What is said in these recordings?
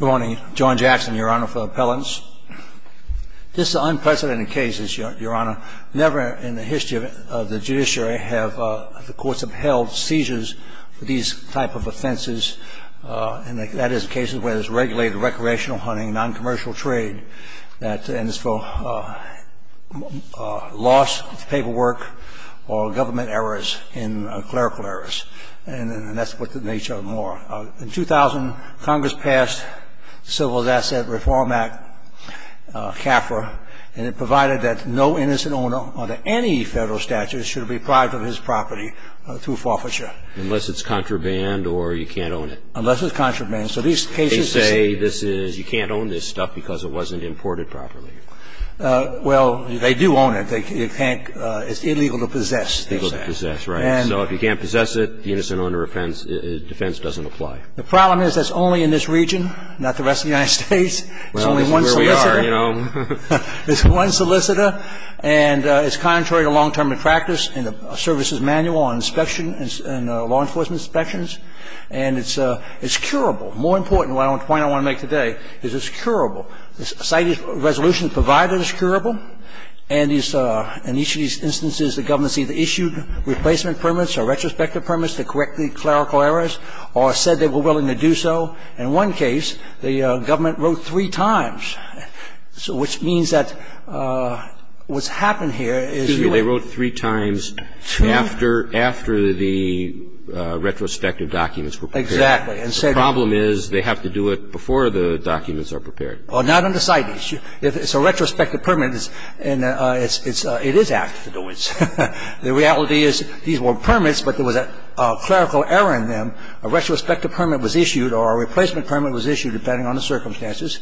Good morning. John Jackson, your honor, for the appellants. This is an unprecedented case, your honor. Never in the history of the judiciary have the courts upheld seizures for these type of offenses. And that is cases where there's regulated recreational hunting, non-commercial trade, and it's for loss of paperwork or government errors and clerical errors. And that's what the nature of the law. In 2000, Congress passed Civil Asset Reform Act, CAFRA, and it provided that no innocent owner under any federal statute should be deprived of his property through forfeiture. Unless it's contraband or you can't own it. Unless it's contraband. So these cases say this is you can't own this stuff because it wasn't imported properly. Well, they do own it. They can't. It's illegal to possess. It's illegal to possess, right. So if you can't possess it, the innocent owner defense doesn't apply. The problem is that it's only in this region, not the rest of the United States. It's only one solicitor. Well, this is where we are, you know. It's one solicitor, and it's contrary to long-term practice in the services manual on inspection and law enforcement inspections. And it's curable. More important, the point I want to make today is it's curable. It's curable. The site resolution provided is curable, and in each of these instances, the government has either issued replacement permits or retrospective permits to correct the clerical errors or said they were willing to do so. In one case, the government wrote three times, which means that what's happened here is you went to the court. Excuse me. They wrote three times after the retrospective documents were prepared. Exactly. The problem is they have to do it before the documents are prepared. Well, not under CITES. If it's a retrospective permit, it is apt to do it. The reality is these were permits, but there was a clerical error in them. A retrospective permit was issued or a replacement permit was issued, depending on the circumstances,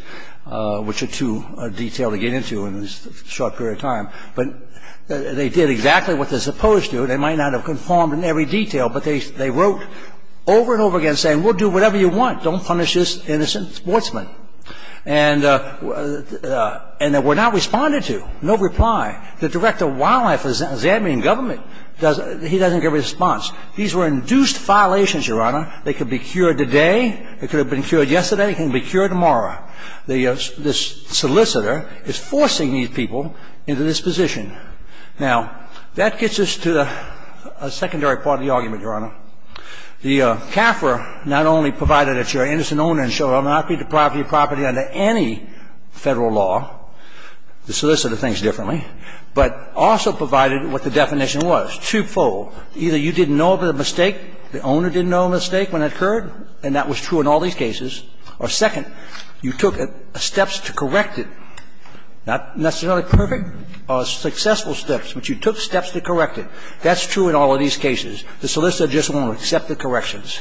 which are too detailed to get into in this short period of time. But they did exactly what they're supposed to. They might not have conformed in every detail, but they wrote over and over again saying, we'll do whatever you want. Don't punish this innocent sportsman. And they were not responded to. No reply. The Director of Wildlife is examining government. He doesn't get a response. These were induced violations, Your Honor. They could be cured today. It could have been cured yesterday. It can be cured tomorrow. The solicitor is forcing these people into this position. Now, that gets us to a secondary part of the argument, Your Honor. The CAFR not only provided that you're an innocent owner and shall not be deprived of your property under any Federal law, the solicitor thinks differently, but also provided what the definition was, twofold. Either you didn't know of a mistake, the owner didn't know of a mistake when it occurred, and that was true in all these cases, or, second, you took steps to correct it, not necessarily perfect, successful steps, but you took steps to correct it. That's true in all of these cases. The solicitor just won't accept the corrections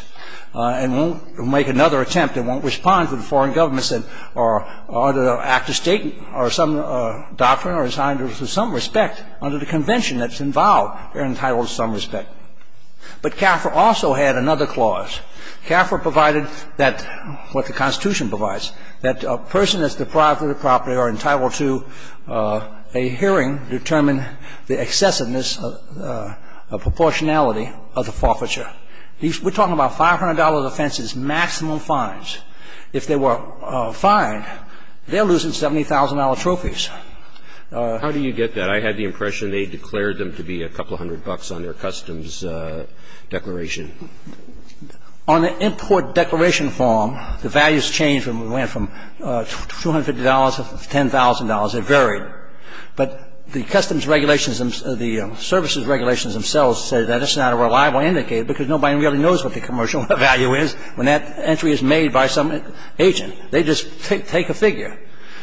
and won't make another attempt and won't respond to the foreign governments that are under the Act of State or some doctrine or assigned to some respect under the convention that's involved or entitled to some respect. But CAFR also had another clause. CAFR provided that, what the Constitution provides, that a person that's deprived of their property or entitled to a hearing determine the excessiveness of the proportionality of the forfeiture. We're talking about $500 offenses, maximum fines. If they were fined, they're losing $70,000 trophies. How do you get that? I had the impression they declared them to be a couple hundred bucks on their customs declaration. On the import declaration form, the values change when we went from $250 to $10,000. They varied. But the customs regulations, the services regulations themselves say that it's not a reliable indicator because nobody really knows what the commercial value is when that entry is made by some agent. They just take a figure.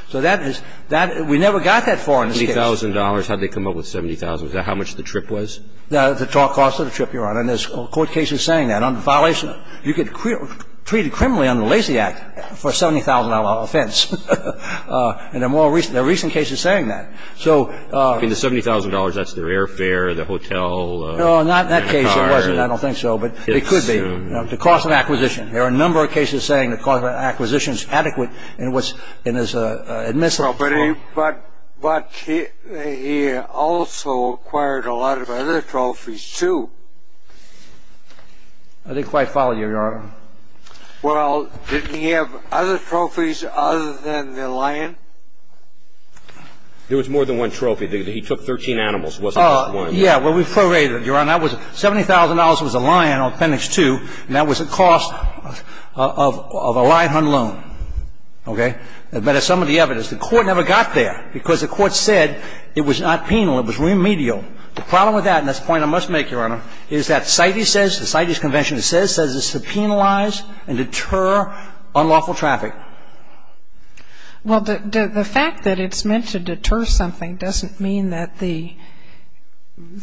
So that is that we never got that far in this case. $70,000. How did they come up with $70,000? Is that how much the trip was? The total cost of the trip, Your Honor. And there's court cases saying that. Under violation, you could treat a criminal under the Lacey Act for a $70,000 offense. And there are more recent cases saying that. I mean, the $70,000, that's their airfare, their hotel, their car. No, not in that case. It wasn't. I don't think so. But it could be. The cost of acquisition. There are a number of cases saying the cost of acquisition is adequate in his admissions. But he also acquired a lot of other trophies, too. I didn't quite follow you, Your Honor. Well, didn't he have other trophies other than the lion? There was more than one trophy. He took 13 animals. It wasn't just one. Yeah, well, we've probated it, Your Honor. $70,000 was a lion on Appendix 2, and that was the cost of a lion hunt loan. Okay? But as some of the evidence, the court never got there because the court said it was not penal, it was remedial. The problem with that, and that's a point I must make, Your Honor, is that CITES says, the CITES Convention says, says it's to penalize and deter unlawful traffic. Well, the fact that it's meant to deter something doesn't mean that the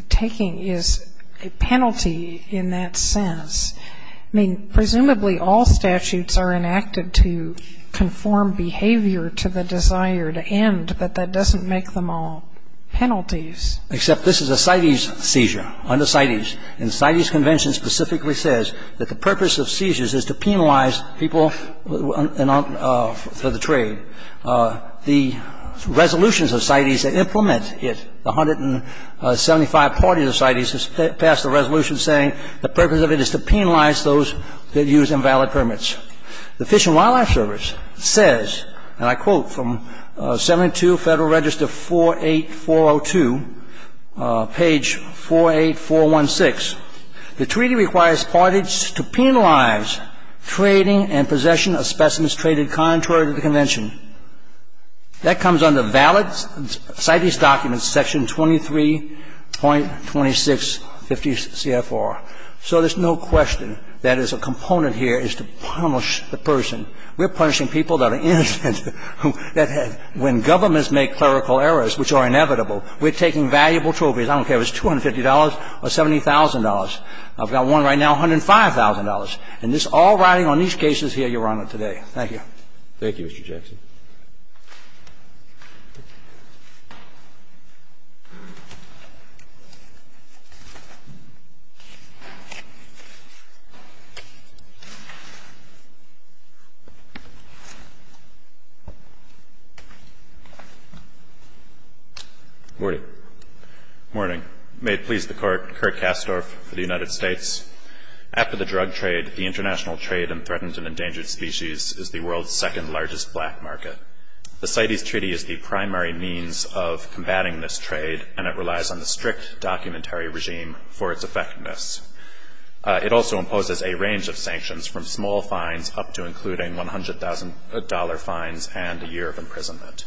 taking is a penalty in that sense. I mean, presumably, all statutes are enacted to conform behavior to the desired end, but that doesn't make them all penalties. Except this is a CITES seizure, under CITES. And the CITES Convention specifically says that the purpose of seizures is to penalize people for the trade. The resolutions of CITES that implement it, the 175 parties of CITES, have passed a resolution saying the purpose of it is to penalize those that use invalid permits. The Fish and Wildlife Service says, and I quote from 72 Federal Register 48402, page 48416, the treaty requires parties to penalize trading and possession of specimens traded contrary to the Convention. That comes under valid CITES documents, section 23.2650CFR. So there's no question that as a component here is to punish the person. We're punishing people that are innocent, that when governments make clerical errors, which are inevitable, we're taking valuable trophies. I don't care if it's $250 or $70,000. I've got one right now, $105,000. And this all riding on these cases here, Your Honor, today. Thank you. Thank you, Mr. Jackson. Morning. Morning. May it please the Court, Kirk Kastorf for the United States. After the drug trade, the international trade in threatened and endangered species is the world's second largest black market. The CITES treaty is the primary means of combating this trade, and it relies on the strict documentary regime for its effectiveness. It also imposes a range of sanctions, from small fines up to including $100,000 fines and a year of imprisonment.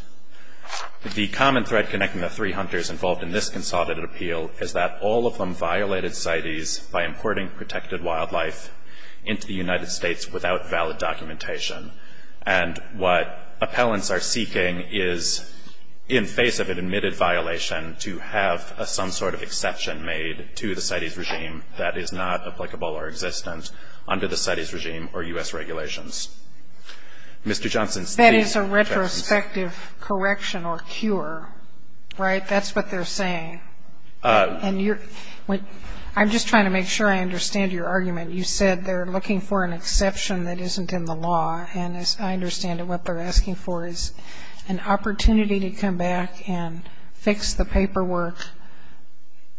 The common thread connecting the three hunters involved in this consulted appeal is that all of them violated CITES by importing protected wildlife into the United States without valid documentation. And what appellants are seeking is, in face of an admitted violation, to have some sort of exception made to the CITES regime that is not applicable or existent under the CITES regime or U.S. regulations. Mr. Johnson, please. That is a retrospective correction or cure, right? That's what they're saying. And you're – I'm just trying to make sure I understand your argument. You said they're looking for an exception that isn't in the law, and as I understand it what they're asking for is an opportunity to come back and fix the paperwork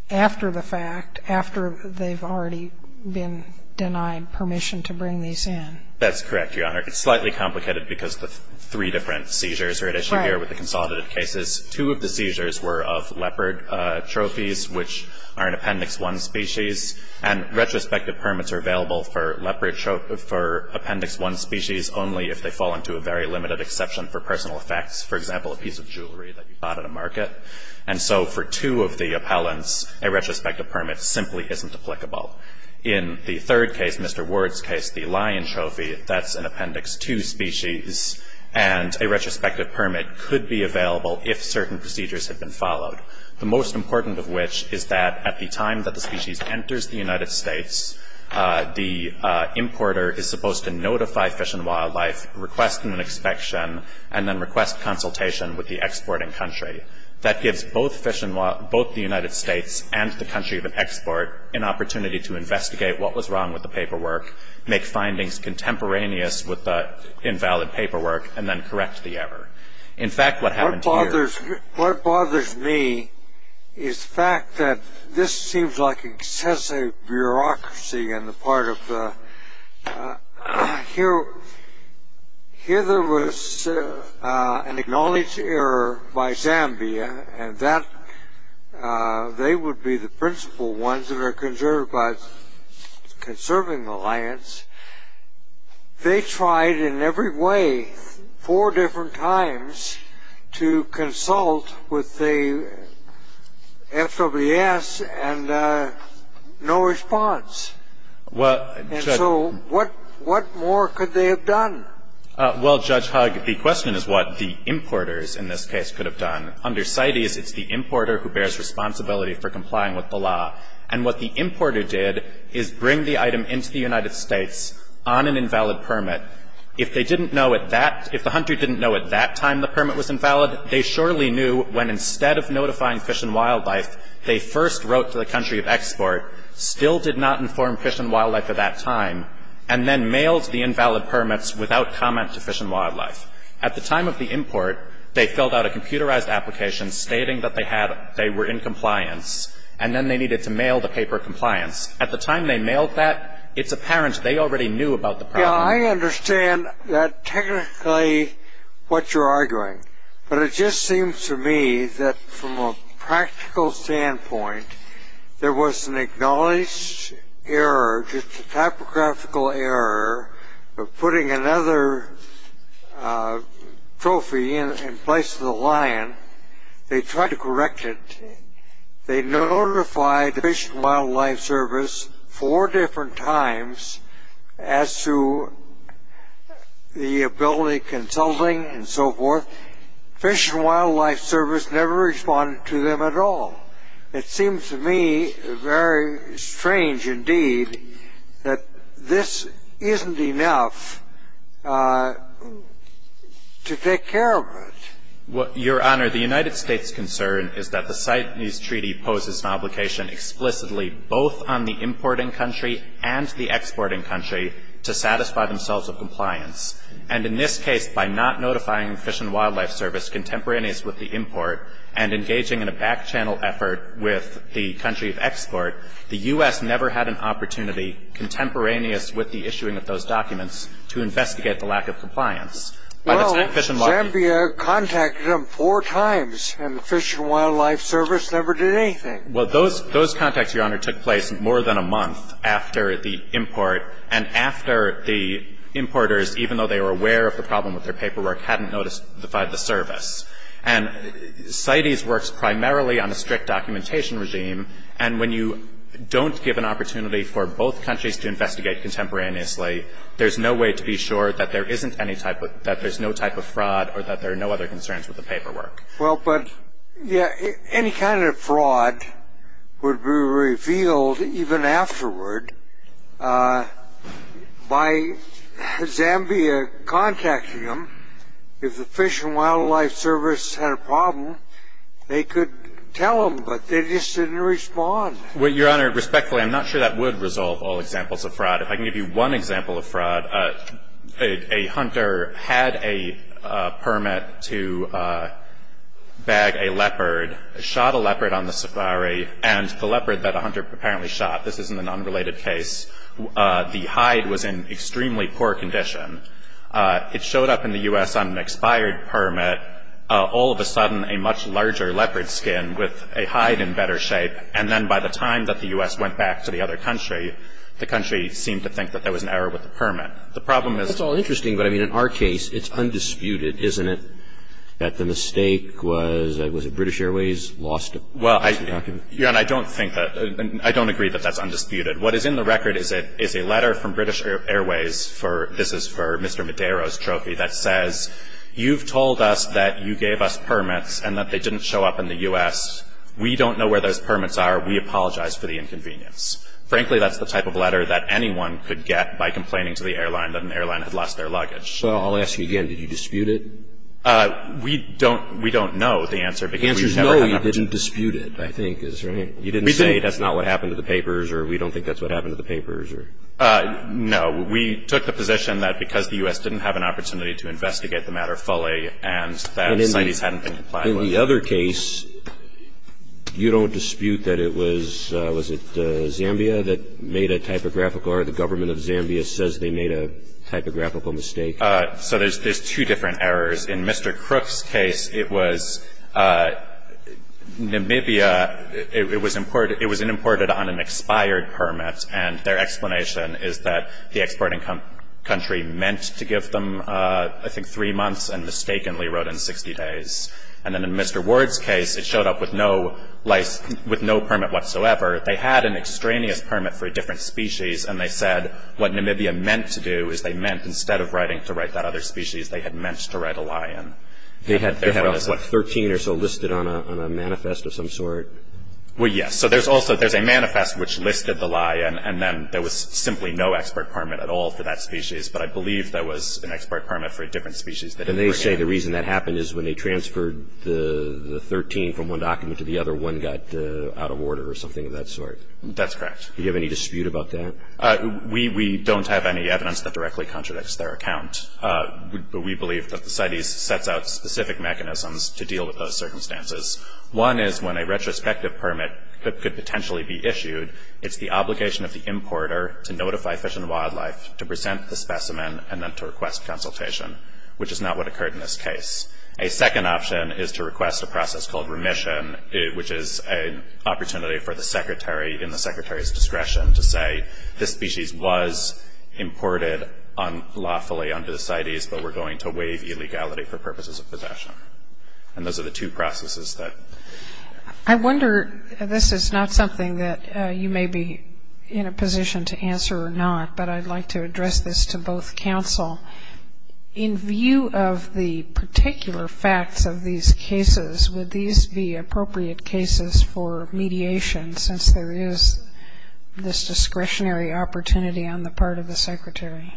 after the fact, after they've already been denied permission to bring these in. That's correct, Your Honor. It's slightly complicated because the three different seizures are at issue here with the consolidated cases. Two of the seizures were of leopard trophies, which are an Appendix 1 species, and retrospective permits are available for leopard – for Appendix 1 species only if they fall into a very limited exception for personal effects, for example, a piece of jewelry that you bought at a market. And so for two of the appellants, a retrospective permit simply isn't applicable. In the third case, Mr. Ward's case, the lion trophy, that's an Appendix 2 species, and a retrospective permit could be available if certain procedures had been followed, the most important of which is that at the time that the species enters the United States, the importer is supposed to notify Fish and Wildlife, request an inspection, and then request consultation with the exporting country. That gives both Fish and – both the United States and the country of export an opportunity to investigate what was wrong with the paperwork, make findings contemporaneous with the invalid paperwork, and then correct the error. In fact, what happened here – What bothers me is the fact that this seems like excessive bureaucracy on the part of the – here there was an acknowledged error by Zambia, and that they would be the principal ones that are concerned about conserving the lions. They tried in every way four different times to consult with the FWS and no response. And so what more could they have done? Well, Judge Hugg, the question is what the importers in this case could have done. Under CITES, it's the importer who bears responsibility for complying with the law. And what the importer did is bring the item into the United States on an invalid permit. If they didn't know at that – if the hunter didn't know at that time the permit was invalid, they surely knew when instead of notifying Fish and Wildlife, they first wrote to the country of export, still did not inform Fish and Wildlife at that time, and then mailed the invalid permits without comment to Fish and Wildlife. At the time of the import, they filled out a computerized application stating that they had – they were in compliance, and then they needed to mail the paper compliance. At the time they mailed that, it's apparent they already knew about the problem. Yeah, I understand that technically what you're arguing. But it just seems to me that from a practical standpoint, there was an acknowledged error, just a typographical error of putting another trophy in place of the lion. They tried to correct it. They notified the Fish and Wildlife Service four different times as to the ability of consulting and so forth. Fish and Wildlife Service never responded to them at all. It seems to me very strange indeed that this isn't enough to take care of it. Your Honor, the United States' concern is that the CITES Treaty poses an obligation explicitly both on the importing country and the exporting country to satisfy themselves of compliance. And in this case, by not notifying the Fish and Wildlife Service contemporaneous with the import and engaging in a back-channel effort with the country of export, the U.S. never had an opportunity contemporaneous with the issuing of those documents to investigate the lack of compliance. Well, Zambia contacted them four times, and the Fish and Wildlife Service never did anything. Well, those contacts, Your Honor, took place more than a month after the import, and after the importers, even though they were aware of the problem with their paperwork, hadn't notified the service. And CITES works primarily on a strict documentation regime, and when you don't give an opportunity for both countries to investigate contemporaneously, there's no way to be sure that there's no type of fraud or that there are no other concerns with the paperwork. Well, but any kind of fraud would be revealed even afterward by Zambia contacting them If the Fish and Wildlife Service had a problem, they could tell them, but they just didn't respond. Well, Your Honor, respectfully, I'm not sure that would resolve all examples of fraud. If I can give you one example of fraud, a hunter had a permit to bag a leopard, shot a leopard on the safari, and the leopard that the hunter apparently shot, this isn't an unrelated case, the hide was in extremely poor condition. It showed up in the U.S. on an expired permit. All of a sudden, a much larger leopard skin with a hide in better shape, and then by the time that the U.S. went back to the other country, the country seemed to think that there was an error with the permit. The problem is That's all interesting, but, I mean, in our case, it's undisputed, isn't it, that the mistake was that British Airways lost it? Well, Your Honor, I don't think that. I don't agree that that's undisputed. What is in the record is a letter from British Airways. This is for Mr. Madero's trophy that says, you've told us that you gave us permits and that they didn't show up in the U.S. We don't know where those permits are. We apologize for the inconvenience. Frankly, that's the type of letter that anyone could get by complaining to the airline that an airline had lost their luggage. So I'll ask you again. Did you dispute it? We don't know the answer. The answer is no, you didn't dispute it, I think is right. You didn't say that's not what happened to the papers or we don't think that's what happened to the papers? No. We took the position that because the U.S. didn't have an opportunity to investigate the matter fully and that CITES hadn't been complied with. In the other case, you don't dispute that it was, was it Zambia that made a typographical error? The government of Zambia says they made a typographical mistake. So there's two different errors. In Mr. Crook's case, it was Namibia, it was imported on an expired permit, and their explanation is that the exporting country meant to give them, I think, three months and mistakenly wrote in 60 days. And then in Mr. Ward's case, it showed up with no permit whatsoever. They had an extraneous permit for a different species, and they said what Namibia meant to do is they meant instead of writing to write that other species, they had meant to write a lie in. They had 13 or so listed on a manifest of some sort? Well, yes. So there's also, there's a manifest which listed the lie in, and then there was simply no export permit at all for that species. But I believe there was an export permit for a different species. And they say the reason that happened is when they transferred the 13 from one document to the other, one got out of order or something of that sort? That's correct. Do you have any dispute about that? We don't have any evidence that directly contradicts their account. But we believe that the CITES sets out specific mechanisms to deal with those circumstances. One is when a retrospective permit could potentially be issued, it's the obligation of the importer to notify Fish and Wildlife to present the specimen and then to request consultation, which is not what occurred in this case. A second option is to request a process called remission, which is an opportunity for the secretary, in the secretary's discretion, to say this species was imported unlawfully under the CITES, but we're going to waive illegality for purposes of possession. And those are the two processes that. I wonder, this is not something that you may be in a position to answer or not, but I'd like to address this to both counsel. In view of the particular facts of these cases, would these be appropriate cases for mediation since there is this discretionary opportunity on the part of the secretary?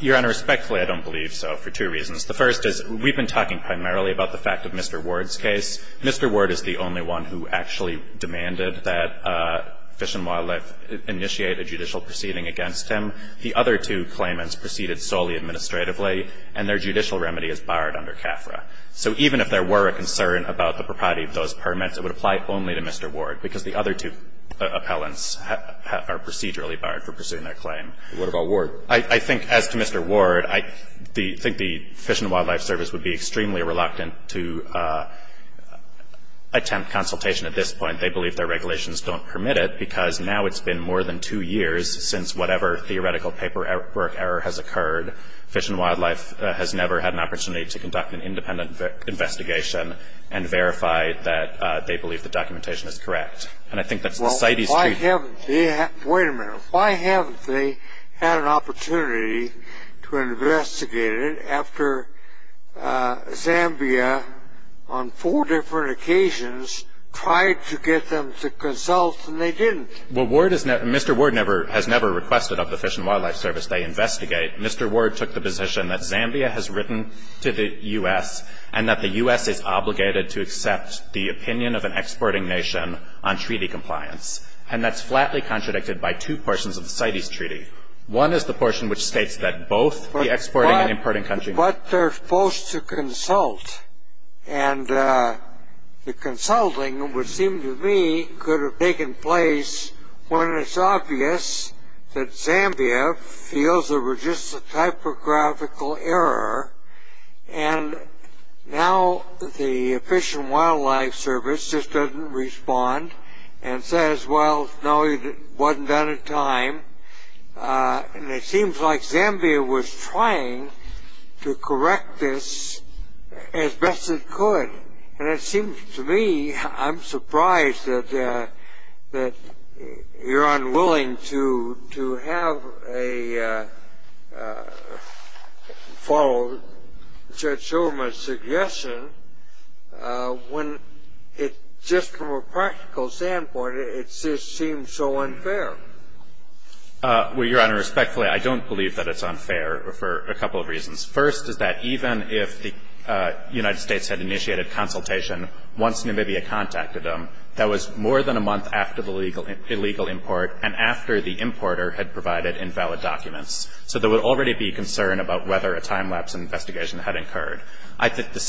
Your Honor, respectfully, I don't believe so for two reasons. The first is we've been talking primarily about the fact of Mr. Ward's case. Mr. Ward is the only one who actually demanded that Fish and Wildlife initiate a judicial proceeding against him. The other two claimants proceeded solely administratively, and their judicial remedy is barred under CAFRA. So even if there were a concern about the propriety of those permits, it would apply only to Mr. Ward because the other two appellants are procedurally barred for pursuing their claim. What about Ward? I think, as to Mr. Ward, I think the Fish and Wildlife Service would be extremely reluctant to attempt consultation at this point. They believe their regulations don't permit it because now it's been more than two years since whatever theoretical paperwork error has occurred, Fish and Wildlife has never had an opportunity to conduct an independent investigation and verify that they believe the documentation is correct. And I think that's the city's duty. Wait a minute. Why haven't they had an opportunity to investigate it after Zambia, on four different occasions, tried to get them to consult and they didn't? Well, Mr. Ward has never requested of the Fish and Wildlife Service they investigate. Mr. Ward took the position that Zambia has written to the U.S. and that the U.S. is obligated to accept the opinion of an exporting nation on treaty compliance, and that's flatly contradicted by two portions of the CITES treaty. One is the portion which states that both the exporting and importing countries But they're supposed to consult, and the consulting which seemed to me could have taken place when it's obvious that Zambia feels there was just a typographical error and now the Fish and Wildlife Service just doesn't respond and says, well, no, it wasn't done in time. And it seems like Zambia was trying to correct this as best it could. And it seems to me I'm surprised that you're unwilling to have a follow Judge Shulman's suggestion when just from a practical standpoint it just seems so unfair. Well, Your Honor, respectfully, I don't believe that it's unfair for a couple of reasons. First is that even if the United States had initiated consultation once Namibia contacted them, that was more than a month after the illegal import and after the importer had provided invalid documents. So there would already be concern about whether a time-lapse investigation had occurred. The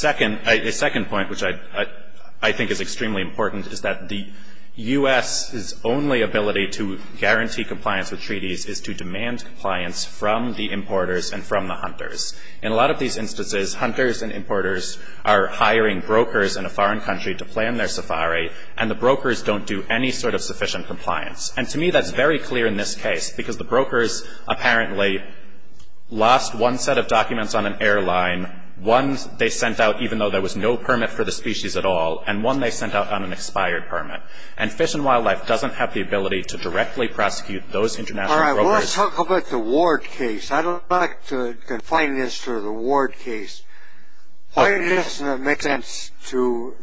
second point, which I think is extremely important, is that the U.S.'s only ability to guarantee compliance with treaties is to demand compliance from the importers and from the hunters. In a lot of these instances, hunters and importers are hiring brokers in a foreign country to plan their safari and the brokers don't do any sort of sufficient compliance. And to me that's very clear in this case because the brokers apparently lost one set of documents on an airline, one they sent out even though there was no permit for the species at all, and one they sent out on an expired permit. And Fish and Wildlife doesn't have the ability to directly prosecute those international brokers. All right. Well, let's talk about the Ward case. I'd like to confine this to the Ward case. Why doesn't it make sense to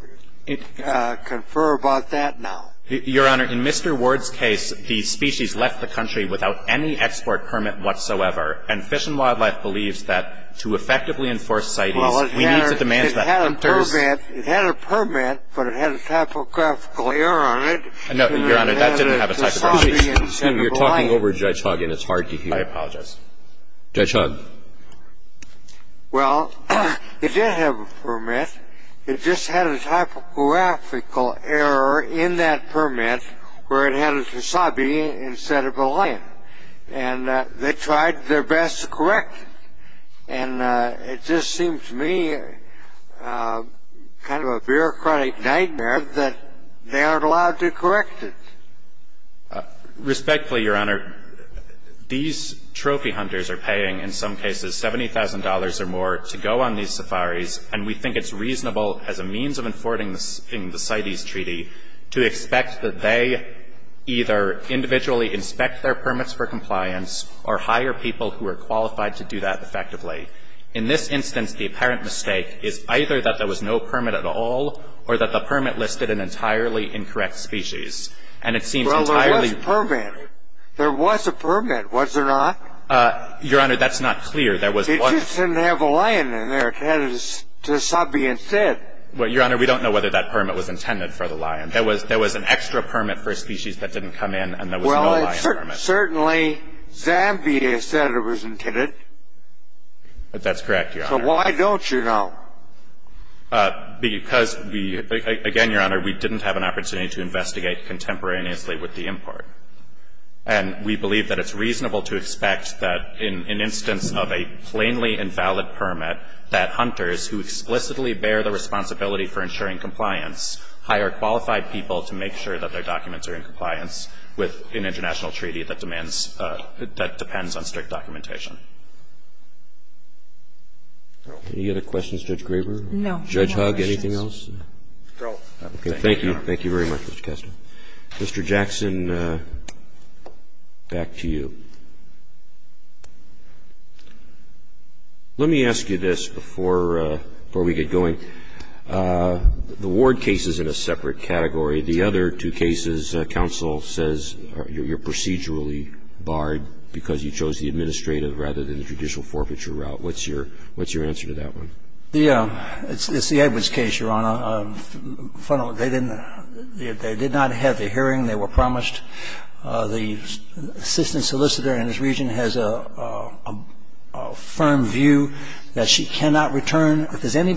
confer about that now? Your Honor, in Mr. Ward's case, the species left the country without any export permit whatsoever, and Fish and Wildlife believes that to effectively enforce CITES we need to demand that hunters Well, it had a permit, but it had a typographical error on it. No, Your Honor, that didn't have a typographical error. Excuse me. You're talking over Judge Hogg and it's hard to hear. I apologize. Judge Hogg. Well, it did have a permit. It just had a typographical error in that permit where it had a wasabi instead of a lime, and they tried their best to correct it. And it just seems to me kind of a bureaucratic nightmare that they aren't allowed to correct it. Respectfully, Your Honor, these trophy hunters are paying in some cases $70,000 or more to go on these safaris, and we think it's reasonable as a means of enforcing the CITES treaty to expect that they either individually inspect their permits for compliance or hire people who are qualified to do that effectively. In this instance, the apparent mistake is either that there was no permit at all or that the permit listed an entirely incorrect species. And it seems entirely Well, there was a permit. There was a permit, was there not? Your Honor, that's not clear. There was one It didn't have a lime in there. It had a wasabi instead. Well, Your Honor, we don't know whether that permit was intended for the lime. There was an extra permit for a species that didn't come in, and there was no lime permit. Well, certainly Zambia said it was intended. That's correct, Your Honor. So why don't you know? Because, again, Your Honor, we didn't have an opportunity to investigate contemporaneously with the import. And we believe that it's reasonable to expect that in an instance of a plainly invalid permit, that hunters who explicitly bear the responsibility for ensuring compliance hire qualified people to make sure that their documents are in compliance with an international treaty that demands, that depends on strict documentation. Any other questions, Judge Graber? No. Judge Hugg, anything else? No. Thank you. Thank you very much, Mr. Kessler. Mr. Jackson, back to you. Let me ask you this before we get going. The Ward case is in a separate category. The other two cases, counsel says you're procedurally barred because you chose the administrative rather than the judicial forfeiture route. What's your answer to that one? Yeah. It's the Edwards case, Your Honor. The case is in a separate category. Well, the case is in a separate category. They did not have the hearing. They were promised. The assistant solicitor in this region has a firm view that she cannot return if there's any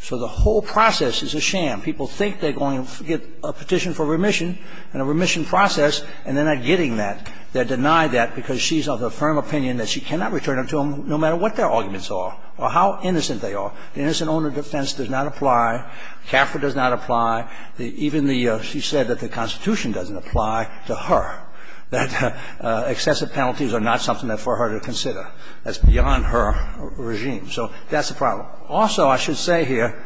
So the whole process is a sham. People think they're going to get a petition for remission and a remission process and they're not getting that. They're denied that because she's of the firm opinion that she cannot return them to them no matter what their arguments are or how innocent they are. The innocent owner defense does not apply. The law does not apply. So the whole process is a sham. The prosecution has a firm opinion that the law does not apply. Even the ---- she said that the Constitution doesn't apply to her, that excessive penalties are not something for her to consider. That's beyond her regime. So that's the problem. Also, I should say here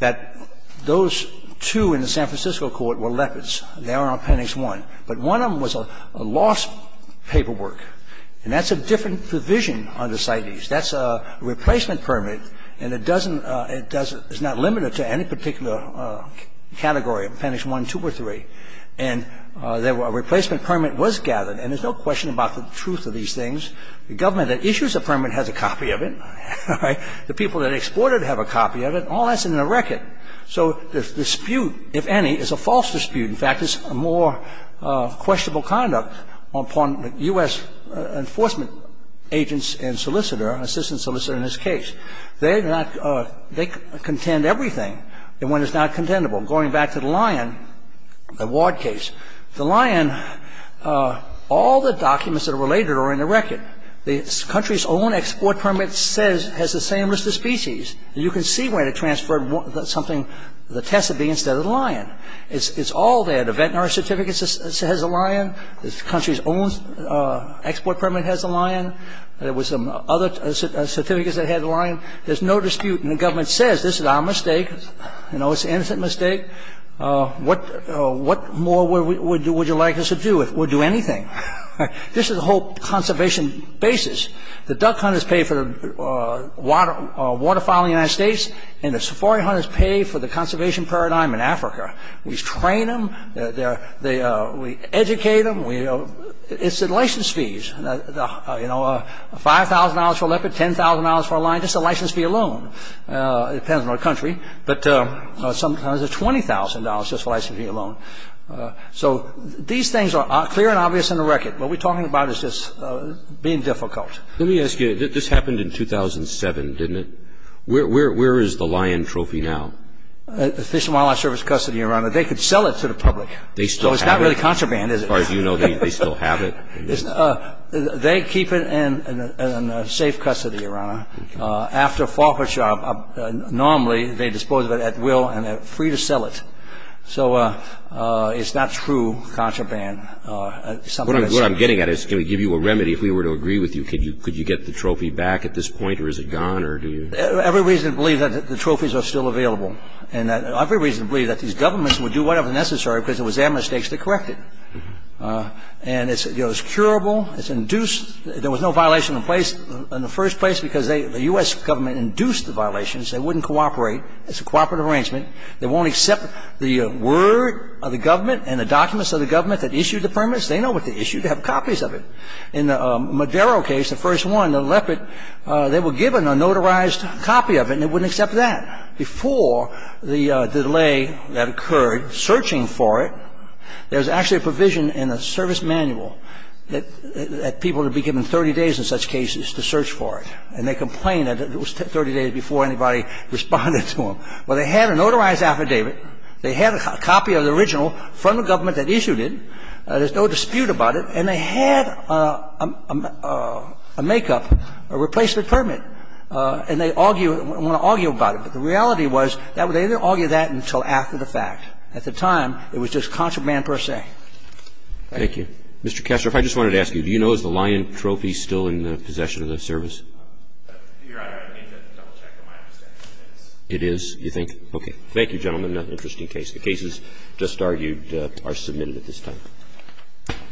that those two in the San Francisco court were lepers. They aren't on Appendix I. But one of them was a lost paperwork. And that's a different provision under CITES. That's a replacement permit, and it doesn't ---- it doesn't ---- it's not limited to any particular category, Appendix I, II, or III. And a replacement permit was gathered. And there's no question about the truth of these things. The government that issues a permit has a copy of it. All right? The people that export it have a copy of it. All that's in the record. So the dispute, if any, is a false dispute. In fact, it's a more questionable conduct upon U.S. enforcement agents and solicitor and assistant solicitor in this case. They do not ---- they contend everything. And when it's not contendable, going back to the Lyon, the ward case, the Lyon, all the documents that are related are in the record. The country's own export permit says ---- has the same list of species. And you can see when it transferred something, the Tessabee instead of the Lyon. It's all there. The veterinary certificate says the Lyon. The country's own export permit has the Lyon. There were some other certificates that had the Lyon. There's no dispute. And the government says this is our mistake. You know, it's an innocent mistake. What more would you like us to do? We'll do anything. This is the whole conservation basis. The duck hunters pay for the waterfowl in the United States, and the safari hunters pay for the conservation paradigm in Africa. We train them. We educate them. It's the license fees. You know, $5,000 for a leopard, $10,000 for a lion, just the license fee alone. It depends on the country. But sometimes it's $20,000, just the license fee alone. So these things are clear and obvious in the record. What we're talking about is just being difficult. Let me ask you, this happened in 2007, didn't it? Where is the Lyon trophy now? The Fish and Wildlife Service custody, Your Honor. They could sell it to the public. They still have it? So it's not really contraband, is it? As far as you know, they still have it? They keep it in safe custody, Your Honor. After a fall for a job, normally they dispose of it at will, and they're free to sell it. So it's not true contraband. What I'm getting at is can we give you a remedy if we were to agree with you? Could you get the trophy back at this point, or is it gone, or do you? Every reason to believe that the trophies are still available, and every reason to believe that these governments would do whatever is necessary because it was their mistakes to correct it. And it's curable. It's induced. There was no violation in place in the first place because the U.S. Government induced the violations. They wouldn't cooperate. It's a cooperative arrangement. They won't accept the word of the government and the documents of the government that issued the permits. They know what they issued. They have copies of it. In the Madero case, the first one, the leopard, they were given a notarized copy of it, and they wouldn't accept that. Before the delay that occurred searching for it, there was actually a provision in the service manual that people would be given 30 days in such cases to search for it, and they complained that it was 30 days before anybody responded to them. Well, they had a notarized affidavit. They had a copy of the original from the government that issued it. There's no dispute about it. And they had a make-up, a replacement permit, and they argue, want to argue about it, but the reality was they didn't argue that until after the fact. At the time, it was just contraband per se. Roberts. Thank you. Mr. Kessler, if I just wanted to ask you, do you know is the lion trophy still in the possession of the service? Your Honor, I need to double-check on my understanding of the case. It is, you think? Okay. Thank you, gentlemen. Interesting case. The cases just argued are submitted at this time. Thank you. Thank you.